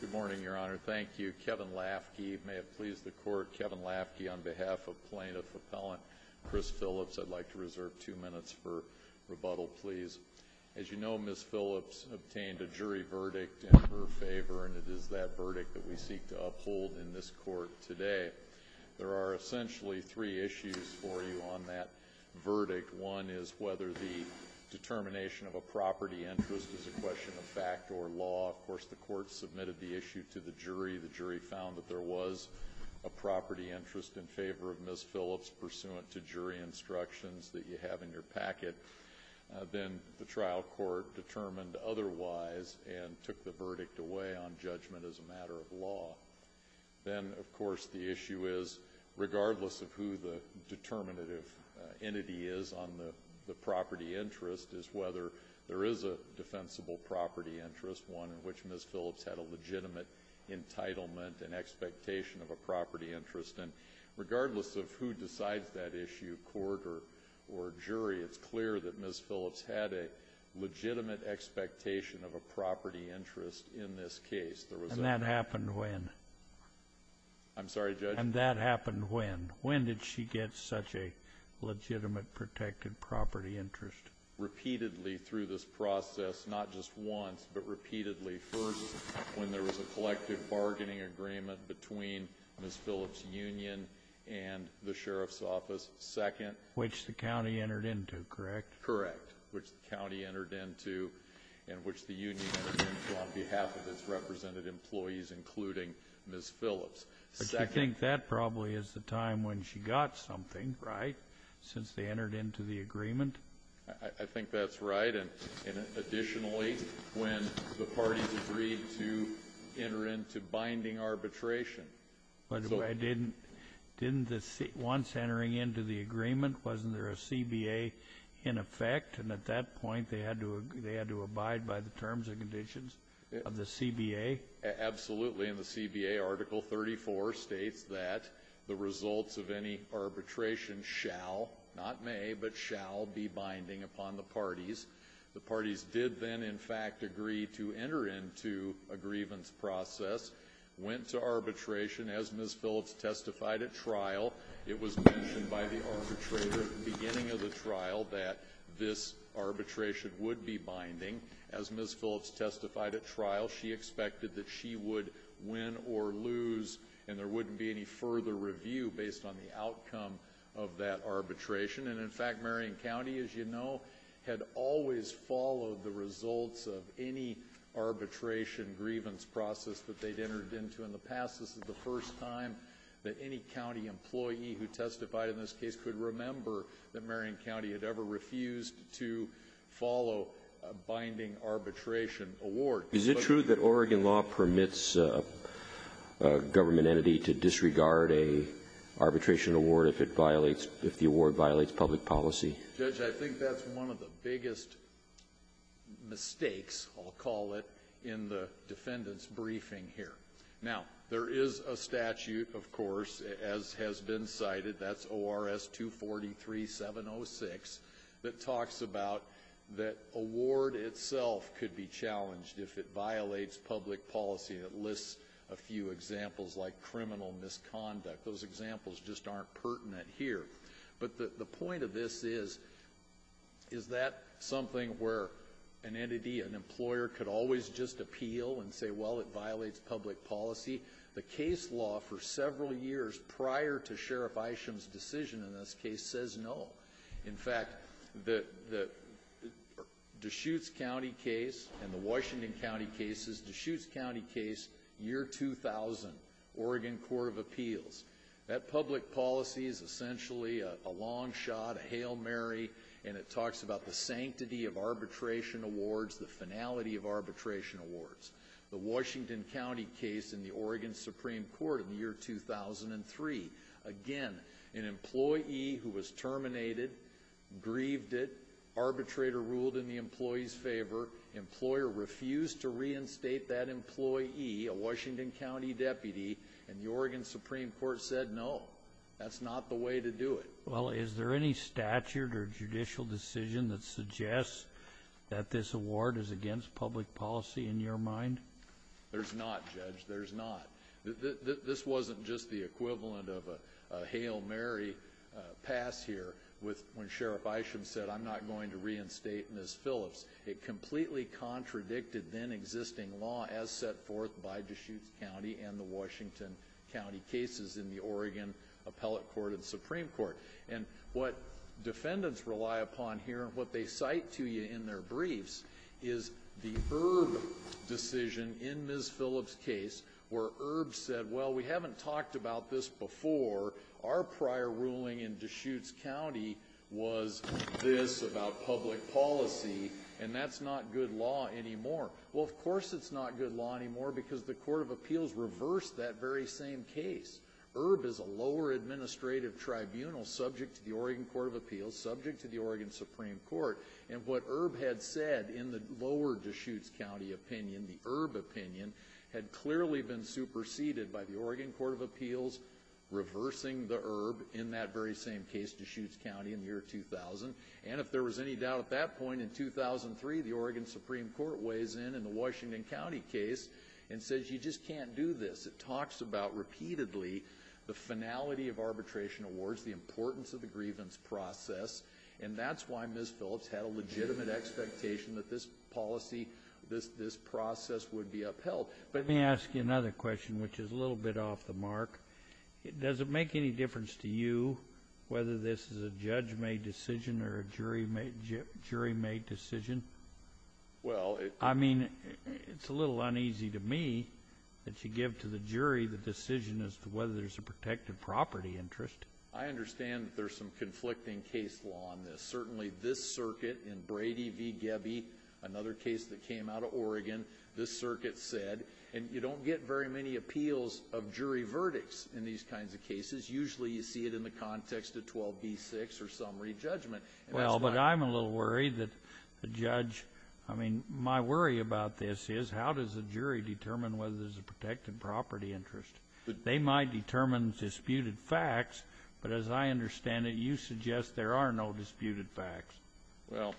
Good morning, Your Honor. Thank you. Kevin Lafke, may it please the Court. Kevin Lafke, on behalf of plaintiff-appellant Chris Phillips, I'd like to reserve two minutes for rebuttal, please. As you know, Ms. Phillips obtained a jury verdict in her favor, and it is that verdict that we seek to uphold in this Court today. There are essentially three issues for you on that verdict. One is whether the determination of a property interest is a question of fact or law. Of course, the Court submitted the issue to the jury. The jury found that there was a property interest in favor of Ms. Phillips pursuant to jury instructions that you have in your packet. Then the trial court determined otherwise and took the verdict away on judgment as a matter of law. Then, of course, the issue is, regardless of who the determinative entity is on the property interest, is whether there is a defensible property interest, one in which Ms. Phillips had a legitimate entitlement and expectation of a property interest. And regardless of who decides that issue, court or jury, it's clear that Ms. Phillips had a legitimate expectation of a property interest in this case. And that happened when? I'm sorry, Judge? And that happened when? When did she get such a legitimate protected property interest? Repeatedly through this process, not just once, but repeatedly. First, when there was a collective bargaining agreement between Ms. Phillips' union and the Sheriff's office. Second? Which the county entered into, correct? Correct. Which the county entered into and which the union entered into on behalf of its represented employees, including Ms. Phillips. Second? I think that probably is the time when she got something, right? Since they entered into the agreement? I think that's right. And additionally, when the parties agreed to enter into binding arbitration. By the way, didn't once entering into the agreement, wasn't there a CBA in effect? And at that point, they had to abide by the terms and conditions of the CBA? Absolutely. And the CBA Article 34 states that the results of any arbitration shall, not may, but shall be binding upon the parties. The parties did then, in fact, agree to enter into a grievance process, went to arbitration, as Ms. Phillips testified at trial. It was mentioned by the arbitrator at the beginning of the trial that this arbitration would be binding. As Ms. Phillips testified at trial, she expected that she would win or lose, and there wouldn't be any further review based on the outcome of that arbitration. And in fact, Marion County, as you know, had always followed the results of any arbitration grievance process that they'd entered into in the past. This is the first time that any county employee who testified in this case could remember that Marion County had ever refused to follow a binding arbitration award. Is it true that Oregon law permits a government entity to disregard an arbitration award if the award violates public policy? Judge, I think that's one of the biggest mistakes, I'll call it, in the defendant's briefing here. Now, there is a statute, of course, as has been cited, that's ORS 243-706, that talks about that award itself could be challenged if it violates public policy. It lists a few examples like criminal misconduct. Those examples just aren't pertinent here. But the point of this is, is that something where an entity, an employer, could always just appeal and say, well, it violates public policy? The case law for several years prior to Sheriff Isham's decision in this case says no. In fact, the Deschutes County case and the Washington County case is Deschutes County case, year 2000, Oregon Court of Appeals. That public policy is essentially a long shot, a Hail Mary, and it talks about the sanctity of arbitration awards, the finality of arbitration awards. The Washington County case in the Oregon Supreme Court in the year 2003. Again, an employee who was terminated, grieved it, arbitrator ruled in the employee's favor, employer refused to reinstate that employee, a Washington County deputy, and the Oregon Supreme Court said no. That's not the way to do it. Well, is there any statute or judicial decision that suggests that this award is against public policy in your mind? There's not, Judge. There's not. This wasn't just the equivalent of a Hail Mary pass here when Sheriff Isham said, I'm not going to reinstate Ms. Phillips. It completely contradicted then existing law as set forth by Deschutes County and the Washington County cases in the Oregon Appellate Court and Supreme Court. And what defendants rely upon here and what they cite to you in their briefs is the Erb decision in Ms. Phillips' case where Erb said, well, we haven't talked about this before. Our prior ruling in Deschutes County was this about public policy, and that's not good law anymore. Well, of course it's not good law anymore because the Court of Appeals reversed that very same case. Erb is a lower administrative tribunal subject to the Oregon Court of Appeals, subject to the Oregon Supreme Court. And what Erb had said in the lower Deschutes County opinion, the Erb opinion, had clearly been superseded by the Oregon Court of Appeals reversing the Erb in that very same case, Deschutes County, in the year 2000. And if there was any doubt at that point in 2003, the Oregon Supreme Court weighs in in the Washington County case and says you just can't do this. It talks about repeatedly the finality of arbitration awards, the importance of the grievance process, and that's why Ms. Phillips had a legitimate expectation that this policy, this process would be upheld. Let me ask you another question, which is a little bit off the mark. Does it make any difference to you whether this is a judge-made decision or a jury-made decision? I mean, it's a little uneasy to me that you give to the jury the decision as to whether there's a protected property interest. I understand that there's some conflicting case law on this. Certainly this circuit in Brady v. Gebby, another case that came out of Oregon, this circuit said, and you don't get very many appeals of jury verdicts in these kinds of cases. Usually you see it in the context of 12b-6 or some re-judgment. Well, but I'm a little worried that the judge, I mean, my worry about this is how does a jury determine whether there's a protected property interest? They might determine disputed facts, but as I understand it, you suggest there are no disputed facts. Well,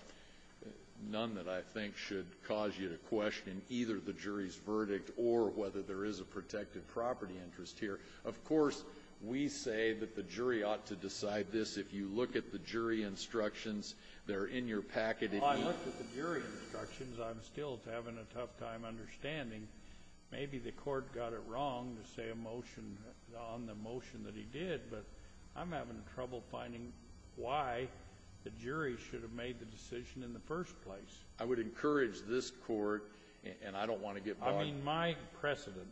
none that I think should cause you to question either the jury's verdict or whether there is a protected property interest here. Of course, we say that the jury ought to decide this. If you look at the jury instructions, they're in your packet. Well, I looked at the jury instructions. I'm still having a tough time understanding. Maybe the court got it wrong to say a motion on the motion that he did, but I'm having trouble finding why the jury should have made the decision in the first place. I would encourage this court, and I don't want to get bogged down. I mean, my precedent,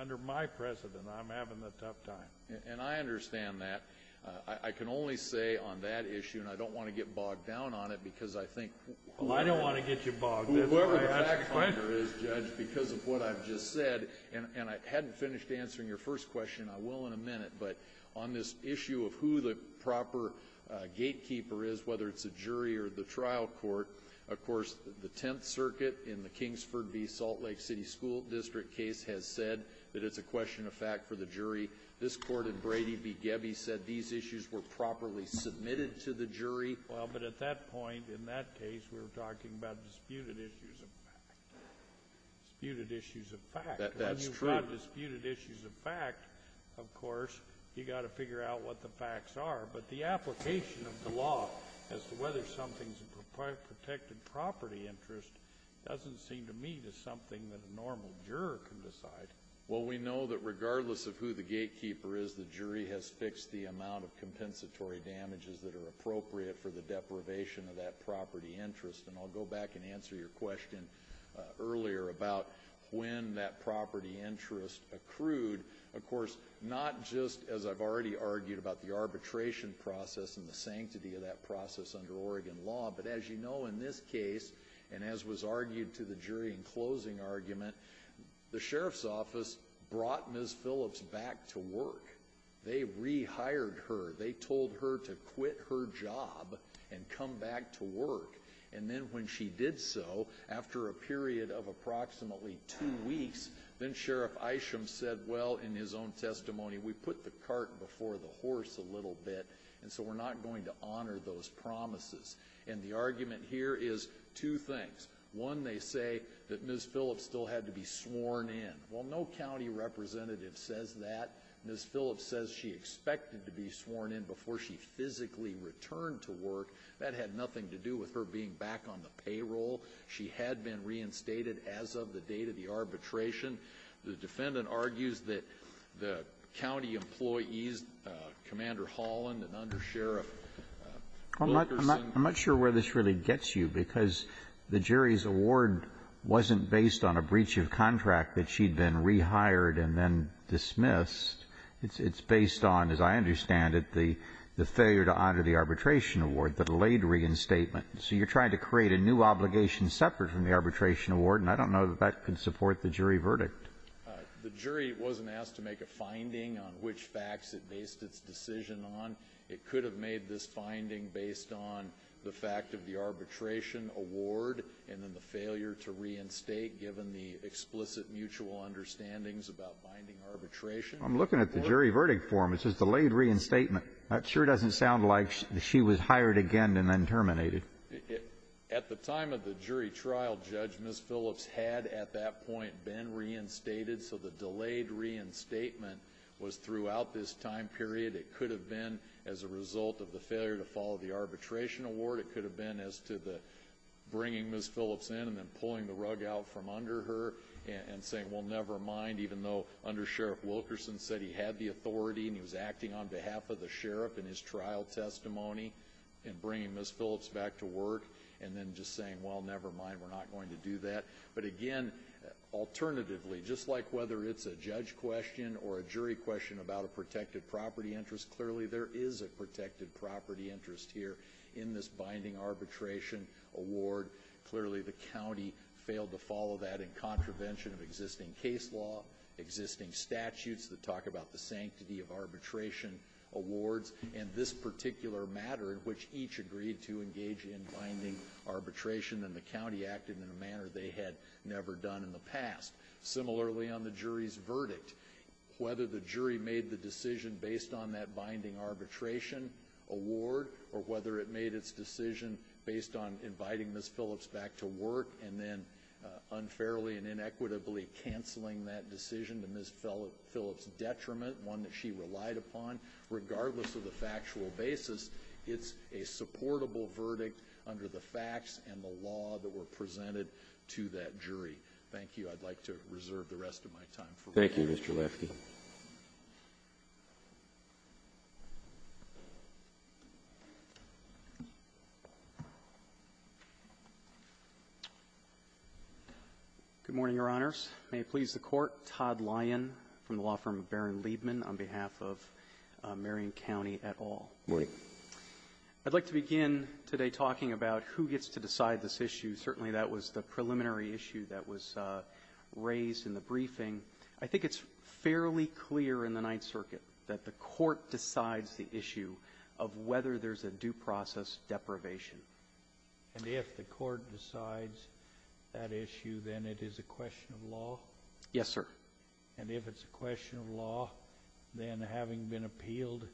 under my precedent, I'm having a tough time. And I understand that. I can only say on that issue, and I don't want to get bogged down on it because I think whoever— Well, I don't want to get you bogged down. Whoever the fact finder is, Judge, because of what I've just said, and I hadn't finished answering your first question. I will in a minute, but on this issue of who the proper gatekeeper is, whether it's a jury or the trial court, of course, the Tenth Circuit in the Kingsford v. Salt Lake City School District case has said that it's a question of fact for the jury. This court in Brady v. Gebbe said these issues were properly submitted to the jury. Well, but at that point, in that case, we were talking about disputed issues of fact. Disputed issues of fact. That's true. When you've got disputed issues of fact, of course, you've got to figure out what the facts are. But the application of the law as to whether something's a protected property interest doesn't seem to me to be something that a normal juror can decide. Well, we know that regardless of who the gatekeeper is, the jury has fixed the amount of compensatory damages that are appropriate for the deprivation of that property interest. And I'll go back and answer your question earlier about when that property interest accrued. Of course, not just, as I've already argued, about the arbitration process and the sanctity of that process under Oregon law. But as you know, in this case, and as was argued to the jury in closing argument, the sheriff's office brought Ms. Phillips back to work. They rehired her. They told her to quit her job and come back to work. And then when she did so, after a period of approximately two weeks, then Sheriff Isham said, well, in his own testimony, we put the cart before the horse a little bit. And so we're not going to honor those promises. And the argument here is two things. One, they say that Ms. Phillips still had to be sworn in. Well, no county representative says that. Ms. Phillips says she expected to be sworn in before she physically returned to work. That had nothing to do with her being back on the payroll. She had been reinstated as of the date of the arbitration. The defendant argues that the county employees, Commander Holland, an undersheriff, workers in the county. I'm not sure where this really gets you, because the jury's award wasn't based on a breach of contract that she'd been rehired and then dismissed. It's based on, as I understand it, the failure to honor the arbitration award, the delayed reinstatement. So you're trying to create a new obligation separate from the arbitration award, and I don't know that that can support the jury verdict. The jury wasn't asked to make a finding on which facts it based its decision on. It could have made this finding based on the fact of the arbitration award and then given the explicit mutual understandings about binding arbitration. I'm looking at the jury verdict form. It says delayed reinstatement. That sure doesn't sound like she was hired again and then terminated. At the time of the jury trial, Judge, Ms. Phillips had at that point been reinstated. So the delayed reinstatement was throughout this time period. It could have been as a result of the failure to follow the arbitration award. It could have been as to the bringing Ms. Phillips in and then pulling the rug out from under her and saying, well, never mind, even though Under Sheriff Wilkerson said he had the authority and he was acting on behalf of the sheriff in his trial testimony and bringing Ms. Phillips back to work, and then just saying, well, never mind, we're not going to do that. But again, alternatively, just like whether it's a judge question or a jury question about a protected property interest, clearly there is a protected property interest here in this binding arbitration award. Clearly the county failed to follow that in contravention of existing case law, existing statutes that talk about the sanctity of arbitration awards, and this particular matter in which each agreed to engage in binding arbitration, and the county acted in a manner they had never done in the past. Similarly on the jury's verdict, whether the jury made the decision based on that binding arbitration award or whether it made its decision based on inviting Ms. Phillips back to work and then unfairly and inequitably canceling that decision to Ms. Phillips' detriment, one that she relied upon, regardless of the factual basis, it's a supportable verdict under the facts and the law that were presented to that jury. Thank you. I'd like to reserve the rest of my time for review. Thank you, Mr. Lefky. Good morning, Your Honors. May it please the Court. Todd Lyon from the law firm of Baron Liebman on behalf of Marion County et al. Good morning. I'd like to begin today talking about who gets to decide this issue. Certainly that was the preliminary issue that was raised in the briefing. I think it's fairly clear in the Ninth Circuit that the Court decides the issue of whether there's a due process deprivation. And if the Court decides that issue, then it is a question of law? Yes, sir. And if it's a question of law, then having been appealed,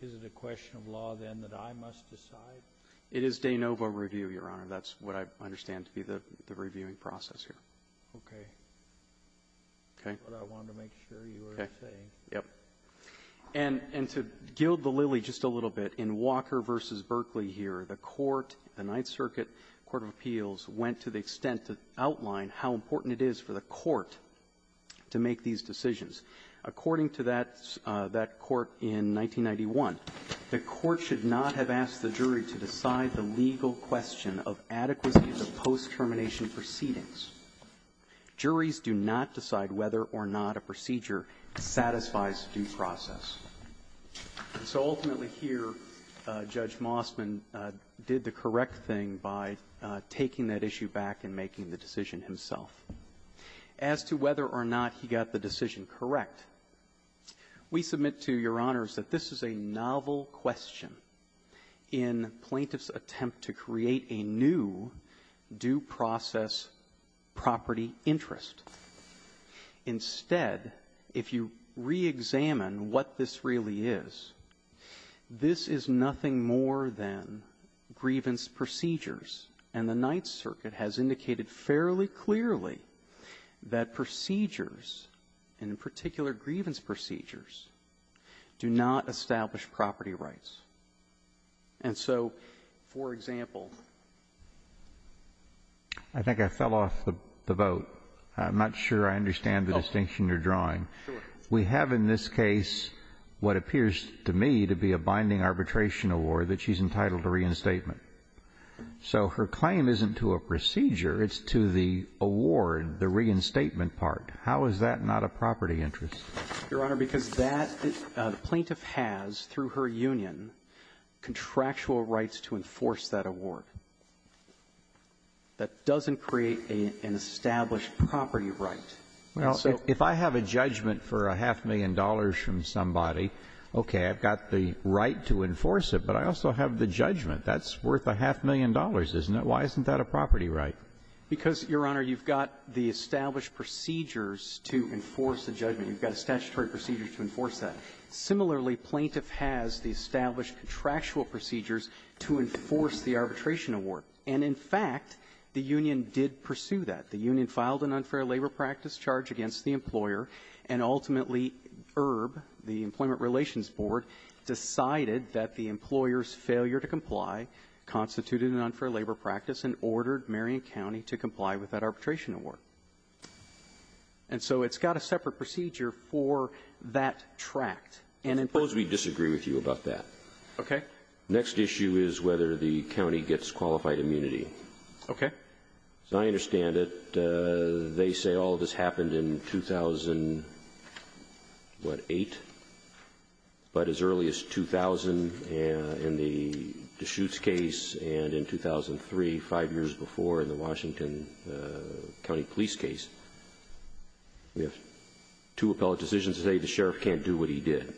is it a question of law then that I must decide? It is de novo review, Your Honor. That's what I understand to be the reviewing process here. Okay. Okay? That's what I wanted to make sure you were saying. Okay. Yep. And to gild the lily just a little bit, in Walker v. Berkeley here, the Court, the Ninth Circuit Court of Appeals, went to the extent to outline how important it is for the Court to make these decisions. According to that Court in 1991, the Court should not have asked the jury to decide the legal question of adequacy of the post-termination proceedings. Juries do not decide whether or not a procedure satisfies due process. And so ultimately here, Judge Mossman did the correct thing by taking that issue back and making the decision himself. As to whether or not he got the decision correct, we submit to Your Honors that this is a novel question in plaintiff's attempt to create a new due process property interest. Instead, if you reexamine what this really is, this is nothing more than grievance procedures. And the Ninth Circuit has indicated fairly clearly that procedures, and in particular grievance procedures, do not establish property rights. And so, for example, I think I fell off the vote. I'm not sure I understand the distinction you're drawing. Sure. We have in this case what appears to me to be a binding arbitration award that she's entitled to reinstatement. So her claim isn't to a procedure. It's to the award, the reinstatement part. How is that not a property interest? Your Honor, because that the plaintiff has, through her union, contractual rights to enforce that award. That doesn't create an established property right. Well, if I have a judgment for a half-million dollars from somebody, okay, I've got the right to enforce it, but I also have the judgment. That's worth a half-million dollars, isn't it? Why isn't that a property right? Because, Your Honor, you've got the established procedures to enforce the judgment. You've got a statutory procedure to enforce that. Similarly, plaintiff has the established contractual procedures to enforce the arbitration award. And, in fact, the union did pursue that. The union filed an unfair labor practice charge against the employer, and ultimately ERB, the Employment Relations Board, decided that the employer's failure to comply constituted an unfair labor practice and ordered Marion County to comply with that arbitration award. And so it's got a separate procedure for that tract. constituted an unfair labor practice and ordered Marion County to comply with that arbitration award. Next issue is whether the county gets qualified immunity. Okay. As I understand it, they say all of this happened in 2008, but as early as 2000 in the Deschutes case, and in 2003, five years before in the Washington County police case, we have two appellate decisions today. The sheriff can't do what he did.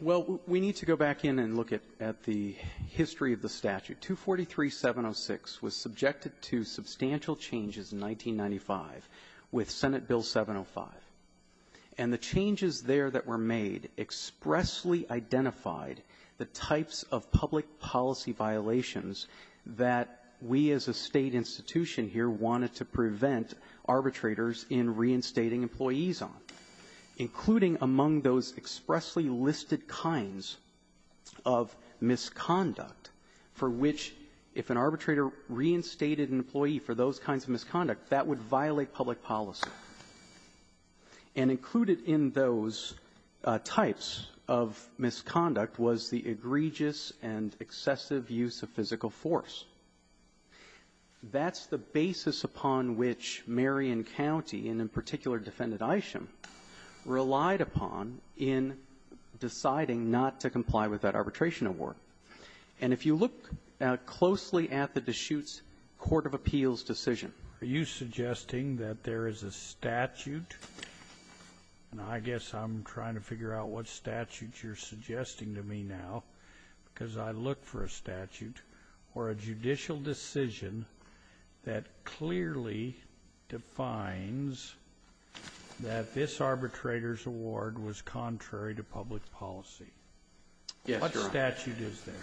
Well, we need to go back in and look at the history of the statute. 243-706 was subjected to substantial changes in 1995 with Senate Bill 705. And the changes there that were made expressly identified the types of public policy violations that we as a State institution here wanted to prevent arbitrators in reinstating employees on, including among those expressly listed kinds of misconduct for which, if an arbitrator reinstated an employee for those kinds of misconduct, that would violate public policy. And included in those types of misconduct was the egregious and excessive use of physical force. That's the basis upon which Marion County, and in particular Defendant Isham, relied upon in deciding not to comply with that arbitration award. And if you look closely at the Deschutes court of appeals decision, are you suggesting that there is a statute, and I guess I'm trying to figure out what statute you're suggesting to me now because I look for a statute, or a judicial decision that clearly defines that this arbitrator's award was contrary to public policy? Yes, Your Honor. What statute is that?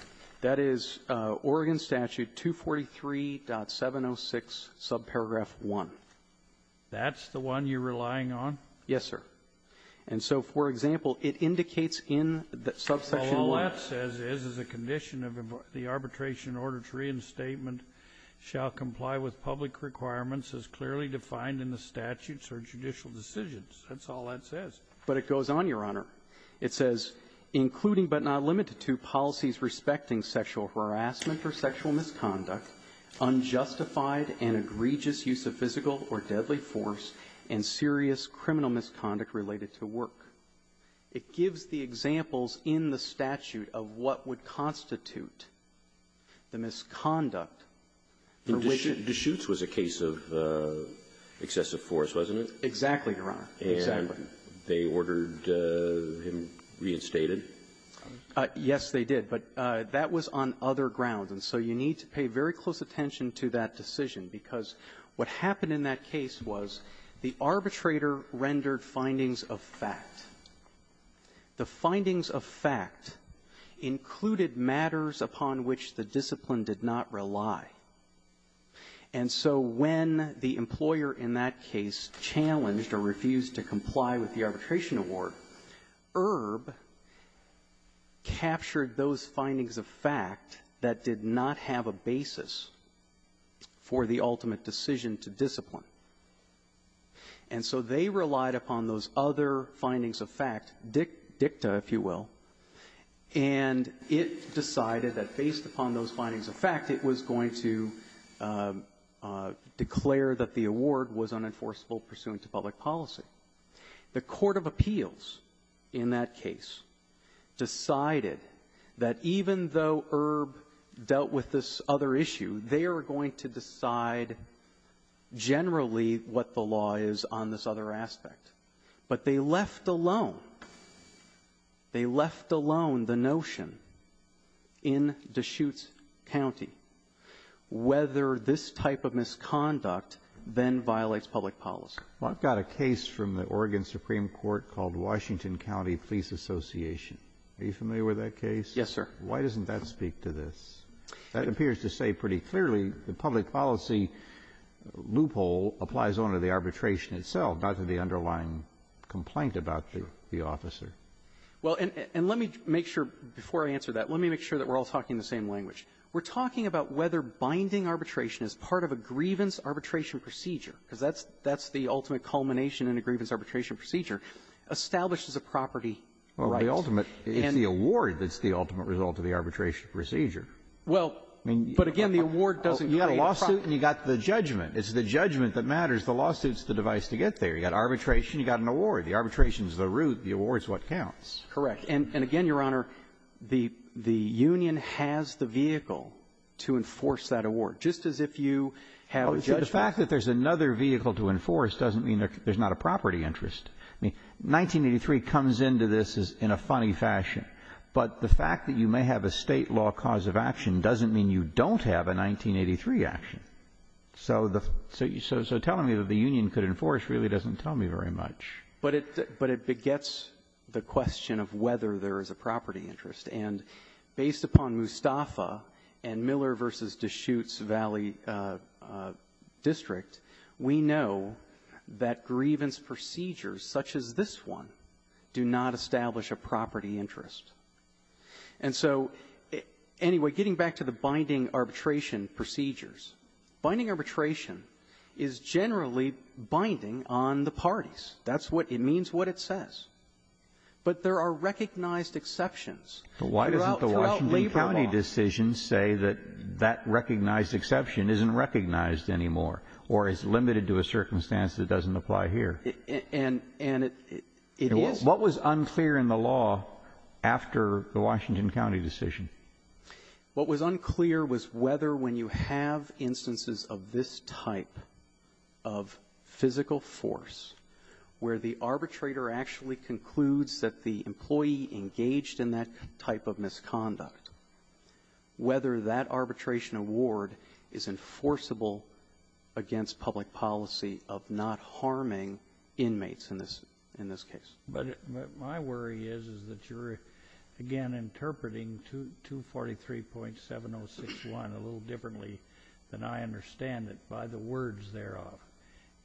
That is Oregon Statute 243.706, subparagraph 1. That's the one you're relying on? Yes, sir. And so, for example, it indicates in the subsection 1. Well, all that says is, is a condition of the arbitration order to reinstatement shall comply with public requirements as clearly defined in the statutes or judicial decisions. That's all that says. But it goes on, Your Honor. It says, including but not limited to policies respecting sexual harassment or sexual misconduct, unjustified and egregious use of physical or deadly force, and serious criminal misconduct related to work. It gives the examples in the statute of what would constitute the misconduct for which it was a case of excessive force, wasn't it? Exactly, Your Honor. And they ordered him reinstated? Yes, they did. But that was on other grounds. And so you need to pay very close attention to that decision, because what happened in that case was the arbitrator rendered findings of fact. The findings of fact included matters upon which the discipline did not rely. And so when the employer in that case challenged or refused to comply with the arbitration award, ERB captured those findings of fact that did not have a basis for the ultimate decision to discipline. And so they relied upon those other findings of fact, dicta, if you will, and it decided that based upon those findings of fact, it was going to declare that the award was unenforceable pursuant to public policy. The court of appeals in that case decided that even though ERB dealt with this other issue, they are going to decide generally what the law is on this other aspect. But they left alone, they left alone the notion in Deschutes County whether this type of misconduct then violates public policy. Well, I've got a case from the Oregon Supreme Court called Washington County Police Association. Are you familiar with that case? Yes, sir. Why doesn't that speak to this? That appears to say pretty clearly the public policy loophole applies only to the arbitration itself, not to the underlying complaint about the officer. Well, and let me make sure, before I answer that, let me make sure that we're all talking in the same language. We're talking about whether binding arbitration is part of a grievance arbitration procedure, because that's the ultimate culmination in a grievance arbitration procedure, establishes a property right. Well, the ultimate is the award that's the ultimate result of the arbitration Well, but again, the award doesn't create a property right. You've got the lawsuit and you've got the judgment. It's the judgment that matters. The lawsuit's the device to get there. You've got arbitration, you've got an award. The arbitration's the root. The award's what counts. Correct. And again, Your Honor, the union has the vehicle to enforce that award, just as if you have a judgment. Well, the fact that there's another vehicle to enforce doesn't mean there's not a property interest. I mean, 1983 comes into this in a funny fashion. But the fact that you may have a State law cause of action doesn't mean you don't have a 1983 action. So the so telling me that the union could enforce really doesn't tell me very much. But it begets the question of whether there is a property interest. And based upon Mustafa and Miller v. Deschutes Valley District, we know that grievance procedures, such as this one, do not establish a property interest. And so, you know, anyway, getting back to the binding arbitration procedures, binding arbitration is generally binding on the parties. That's what it means, what it says. But there are recognized exceptions. Why doesn't the Washington County decision say that that recognized exception isn't recognized anymore or is limited to a circumstance that doesn't apply here? And it is. What was unclear in the law after the Washington County decision? What was unclear was whether when you have instances of this type of physical force where the arbitrator actually concludes that the employee engaged in that type of misconduct, whether that arbitration award is enforceable against public policy of not harming inmates in this case. But my worry is that you're, again, interpreting 243.7061 a little differently than I understand it by the words thereof.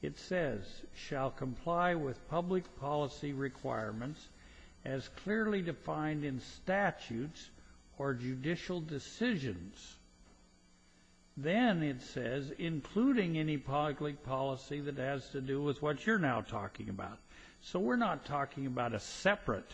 It says, shall comply with public policy requirements as clearly defined in statutes or judicial decisions. Then it says, including any public policy that has to do with what you're now talking about. So we're not talking about a separate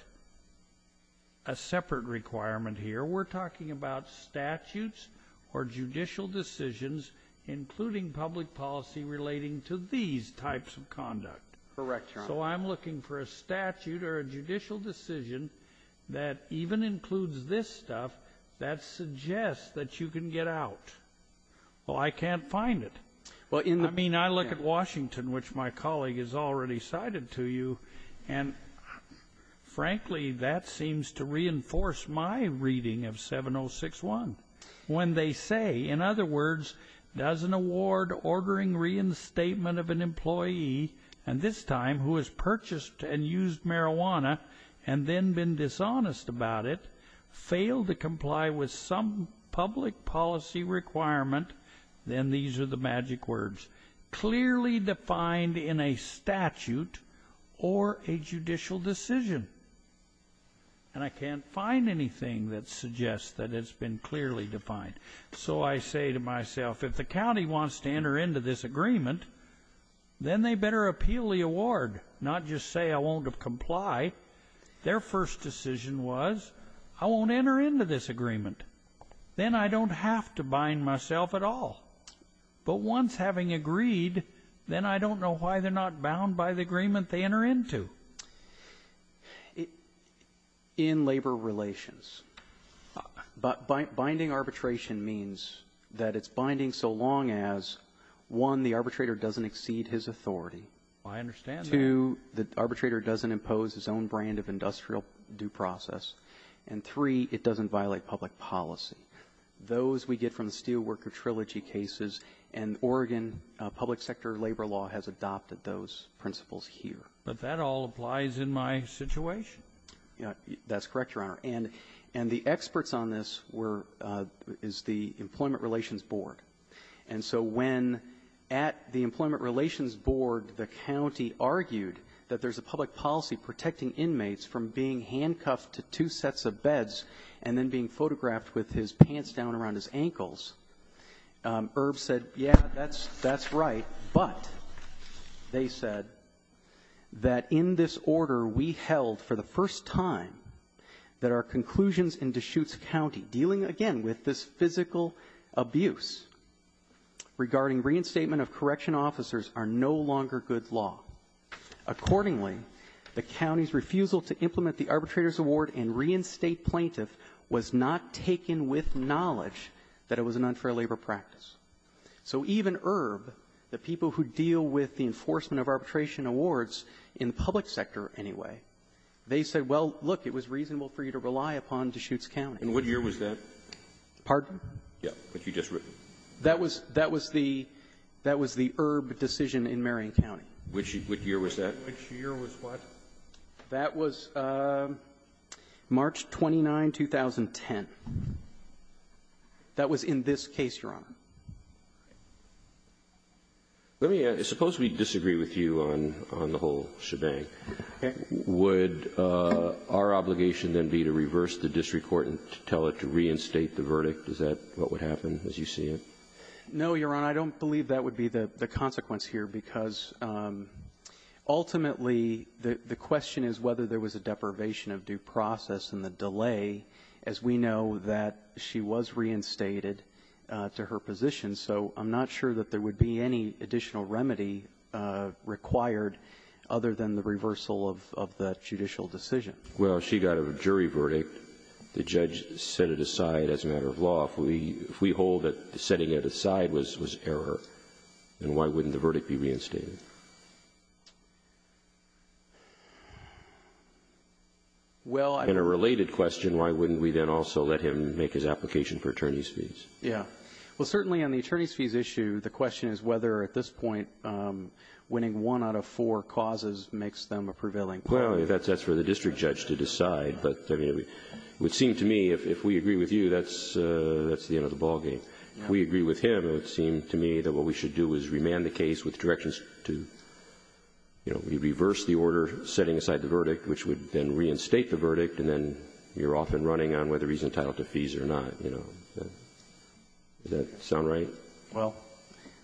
requirement here. We're talking about statutes or judicial decisions, including public policy relating to these types of conduct. Correct, Your Honor. So I'm looking for a statute or a judicial decision that even includes this stuff that suggests that you can get out. Well, I can't find it. I mean, I look at Washington, which my colleague has already cited to you. And frankly, that seems to reinforce my reading of 7061. When they say, in other words, does an award ordering reinstatement of an employee, and this time who has purchased and used marijuana and then been dishonest about it, fail to comply with some public policy requirement, then these are the magic words, clearly defined in a statute or a judicial decision. And I can't find anything that suggests that it's been clearly defined. So I say to myself, if the county wants to enter into this agreement, then they better appeal the award, not just say I won't comply. Their first decision was, I won't enter into this agreement. Then I don't have to bind myself at all. But once having agreed, then I don't know why they're not bound by the agreement they enter into. In labor relations, binding arbitration means that it's binding so long as, one, the arbitrator doesn't exceed his authority. I understand that. Two, the arbitrator doesn't impose his own brand of industrial due process. And, three, it doesn't violate public policy. Those we get from the Steelworker Trilogy cases, and Oregon public sector labor law has adopted those principles here. But that all applies in my situation. That's correct, Your Honor. And the experts on this were the Employment Relations Board. And so when at the Employment Relations Board, the county argued that there's a public policy protecting inmates from being handcuffed to two sets of beds and then being photographed with his pants down around his ankles, Erb said, yeah, that's right. But they said that in this order, we held for the first time that our conclusions in Deschutes County dealing, again, with this physical abuse regarding reinstatement of correction officers are no longer good law. Accordingly, the county's refusal to implement the Arbitrator's Award and reinstate plaintiff was not taken with knowledge that it was an unfair labor practice. So even Erb, the people who deal with the enforcement of arbitration awards in the public sector anyway, they said, well, look, it was reasonable for you to rely upon Deschutes County. And what year was that? Pardon? Yeah. What you just wrote. That was the Erb decision in Marion County. Which year was that? Which year was what? That was March 29, 2010. That was in this case, Your Honor. Let me ask. Suppose we disagree with you on the whole shebang. Okay. Would our obligation then be to reverse the district court and tell it to reinstate the verdict? Is that what would happen as you see it? No, Your Honor. I don't believe that would be the consequence here, because ultimately, the question is whether there was a deprivation of due process in the delay, as we know that she was reinstated to her position. So I'm not sure that there would be any additional remedy required other than the reversal of the judicial decision. Well, she got a jury verdict. The judge set it aside as a matter of law. If we hold that setting it aside was error, then why wouldn't the verdict be reinstated? Well, I — In a related question, why wouldn't we then also let him make his application for attorney's fees? Yeah. Well, certainly on the attorney's fees issue, the question is whether at this point winning one out of four causes makes them a prevailing — Well, that's for the district judge to decide, but it would seem to me, if we agree with you, that's the end of the ballgame. If we agree with him, it would seem to me that what we should do is remand the case with directions to, you know, reverse the order setting aside the verdict, which would then reinstate the verdict, and then you're off and running on whether he's entitled to fees or not, you know. Does that sound right? Well,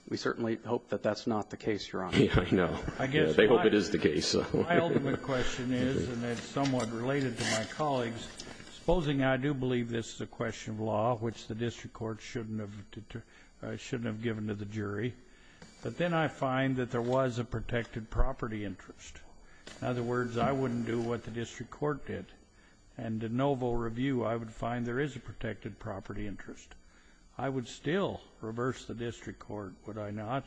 we certainly hope that that's not the case, Your Honor. Yeah, I know. I guess my — They hope it is the case, so — My ultimate question is, and it's somewhat related to my colleagues, supposing I do believe this is a question of law, which the district court shouldn't have — shouldn't have given to the jury, but then I find that there was a protected property interest. In other words, I wouldn't do what the district court did. And in no vote review, I would find there is a protected property interest. I would still reverse the district court, would I not,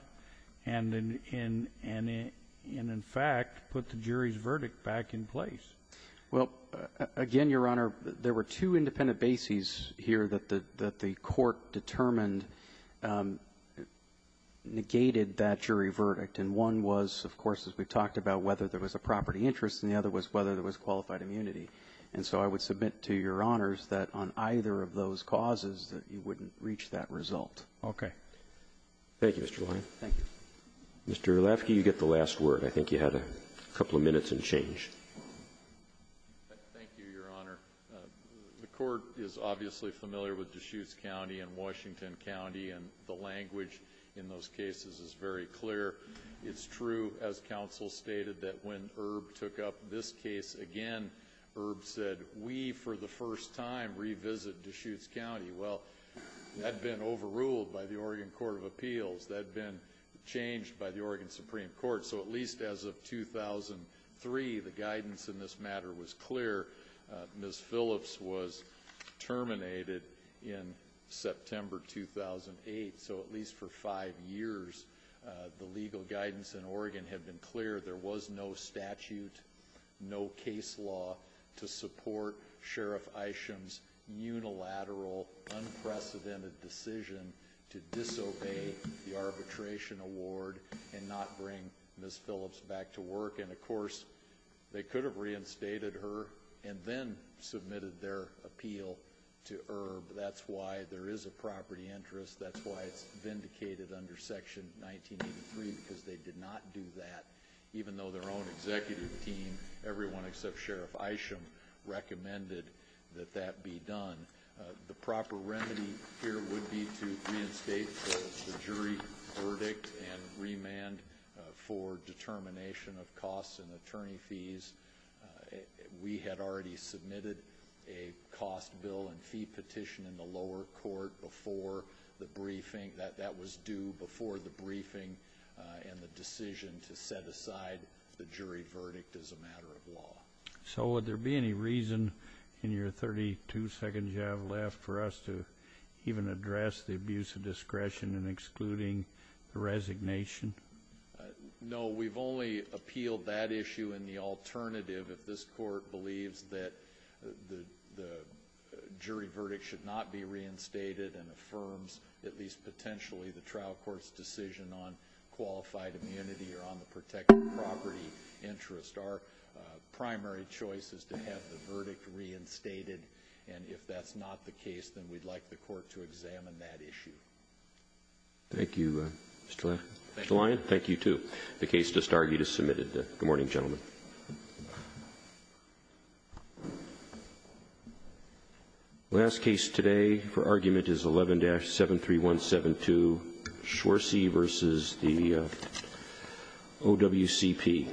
and in — and in fact, put the jury's verdict back in place. Well, again, Your Honor, there were two independent bases here that the — that the court determined negated that jury verdict. And one was, of course, as we've talked about, whether there was a property interest, and the other was whether there was qualified immunity. And so I would submit to Your Honors that on either of those causes that you wouldn't reach that result. Okay. Thank you, Mr. Lange. Thank you. Mr. Ulafsky, you get the last word. I think you had a couple of minutes and change. Thank you, Your Honor. The court is obviously familiar with Deschutes County and Washington County, and the language in those cases is very clear. It's true, as counsel stated, that when Erb took up this case again, Erb said, we, for the first time, revisit Deschutes County. Well, that had been overruled by the Oregon Court of Appeals. That had been changed by the Oregon Supreme Court. So at least as of 2003, the guidance in this matter was clear. Ms. Phillips was terminated in September 2008. So at least for five years, the legal guidance in Oregon had been clear. There was no statute, no case law to support Sheriff Isham's unilateral, unprecedented decision to disobey the arbitration award and not bring Ms. Phillips back to work. And of course, they could have reinstated her and then submitted their appeal to Erb. That's why there is a property interest. That's why it's vindicated under Section 1983, because they did not do that. Even though their own executive team, everyone except Sheriff Isham, recommended that that be done. The proper remedy here would be to reinstate the jury verdict and remand for determination of costs and attorney fees. We had already submitted a cost bill and fee petition in the lower court before the briefing. That was due before the briefing and the decision to set aside the jury verdict as a matter of law. So would there be any reason in your 32 seconds you have left for us to even address the abuse of discretion in excluding the resignation? No, we've only appealed that issue in the alternative if this court believes that the jury verdict should not be reinstated and affirms, at least potentially, the trial court's decision on qualified immunity or on the protected property interest. Our primary choice is to have the verdict reinstated. And if that's not the case, then we'd like the court to examine that issue. Thank you, Mr. Lyon. Mr. Lyon, thank you, too. The case just argued is submitted. Good morning, gentlemen. Last case today for argument is 11-73172, George Swersie versus the OWCP.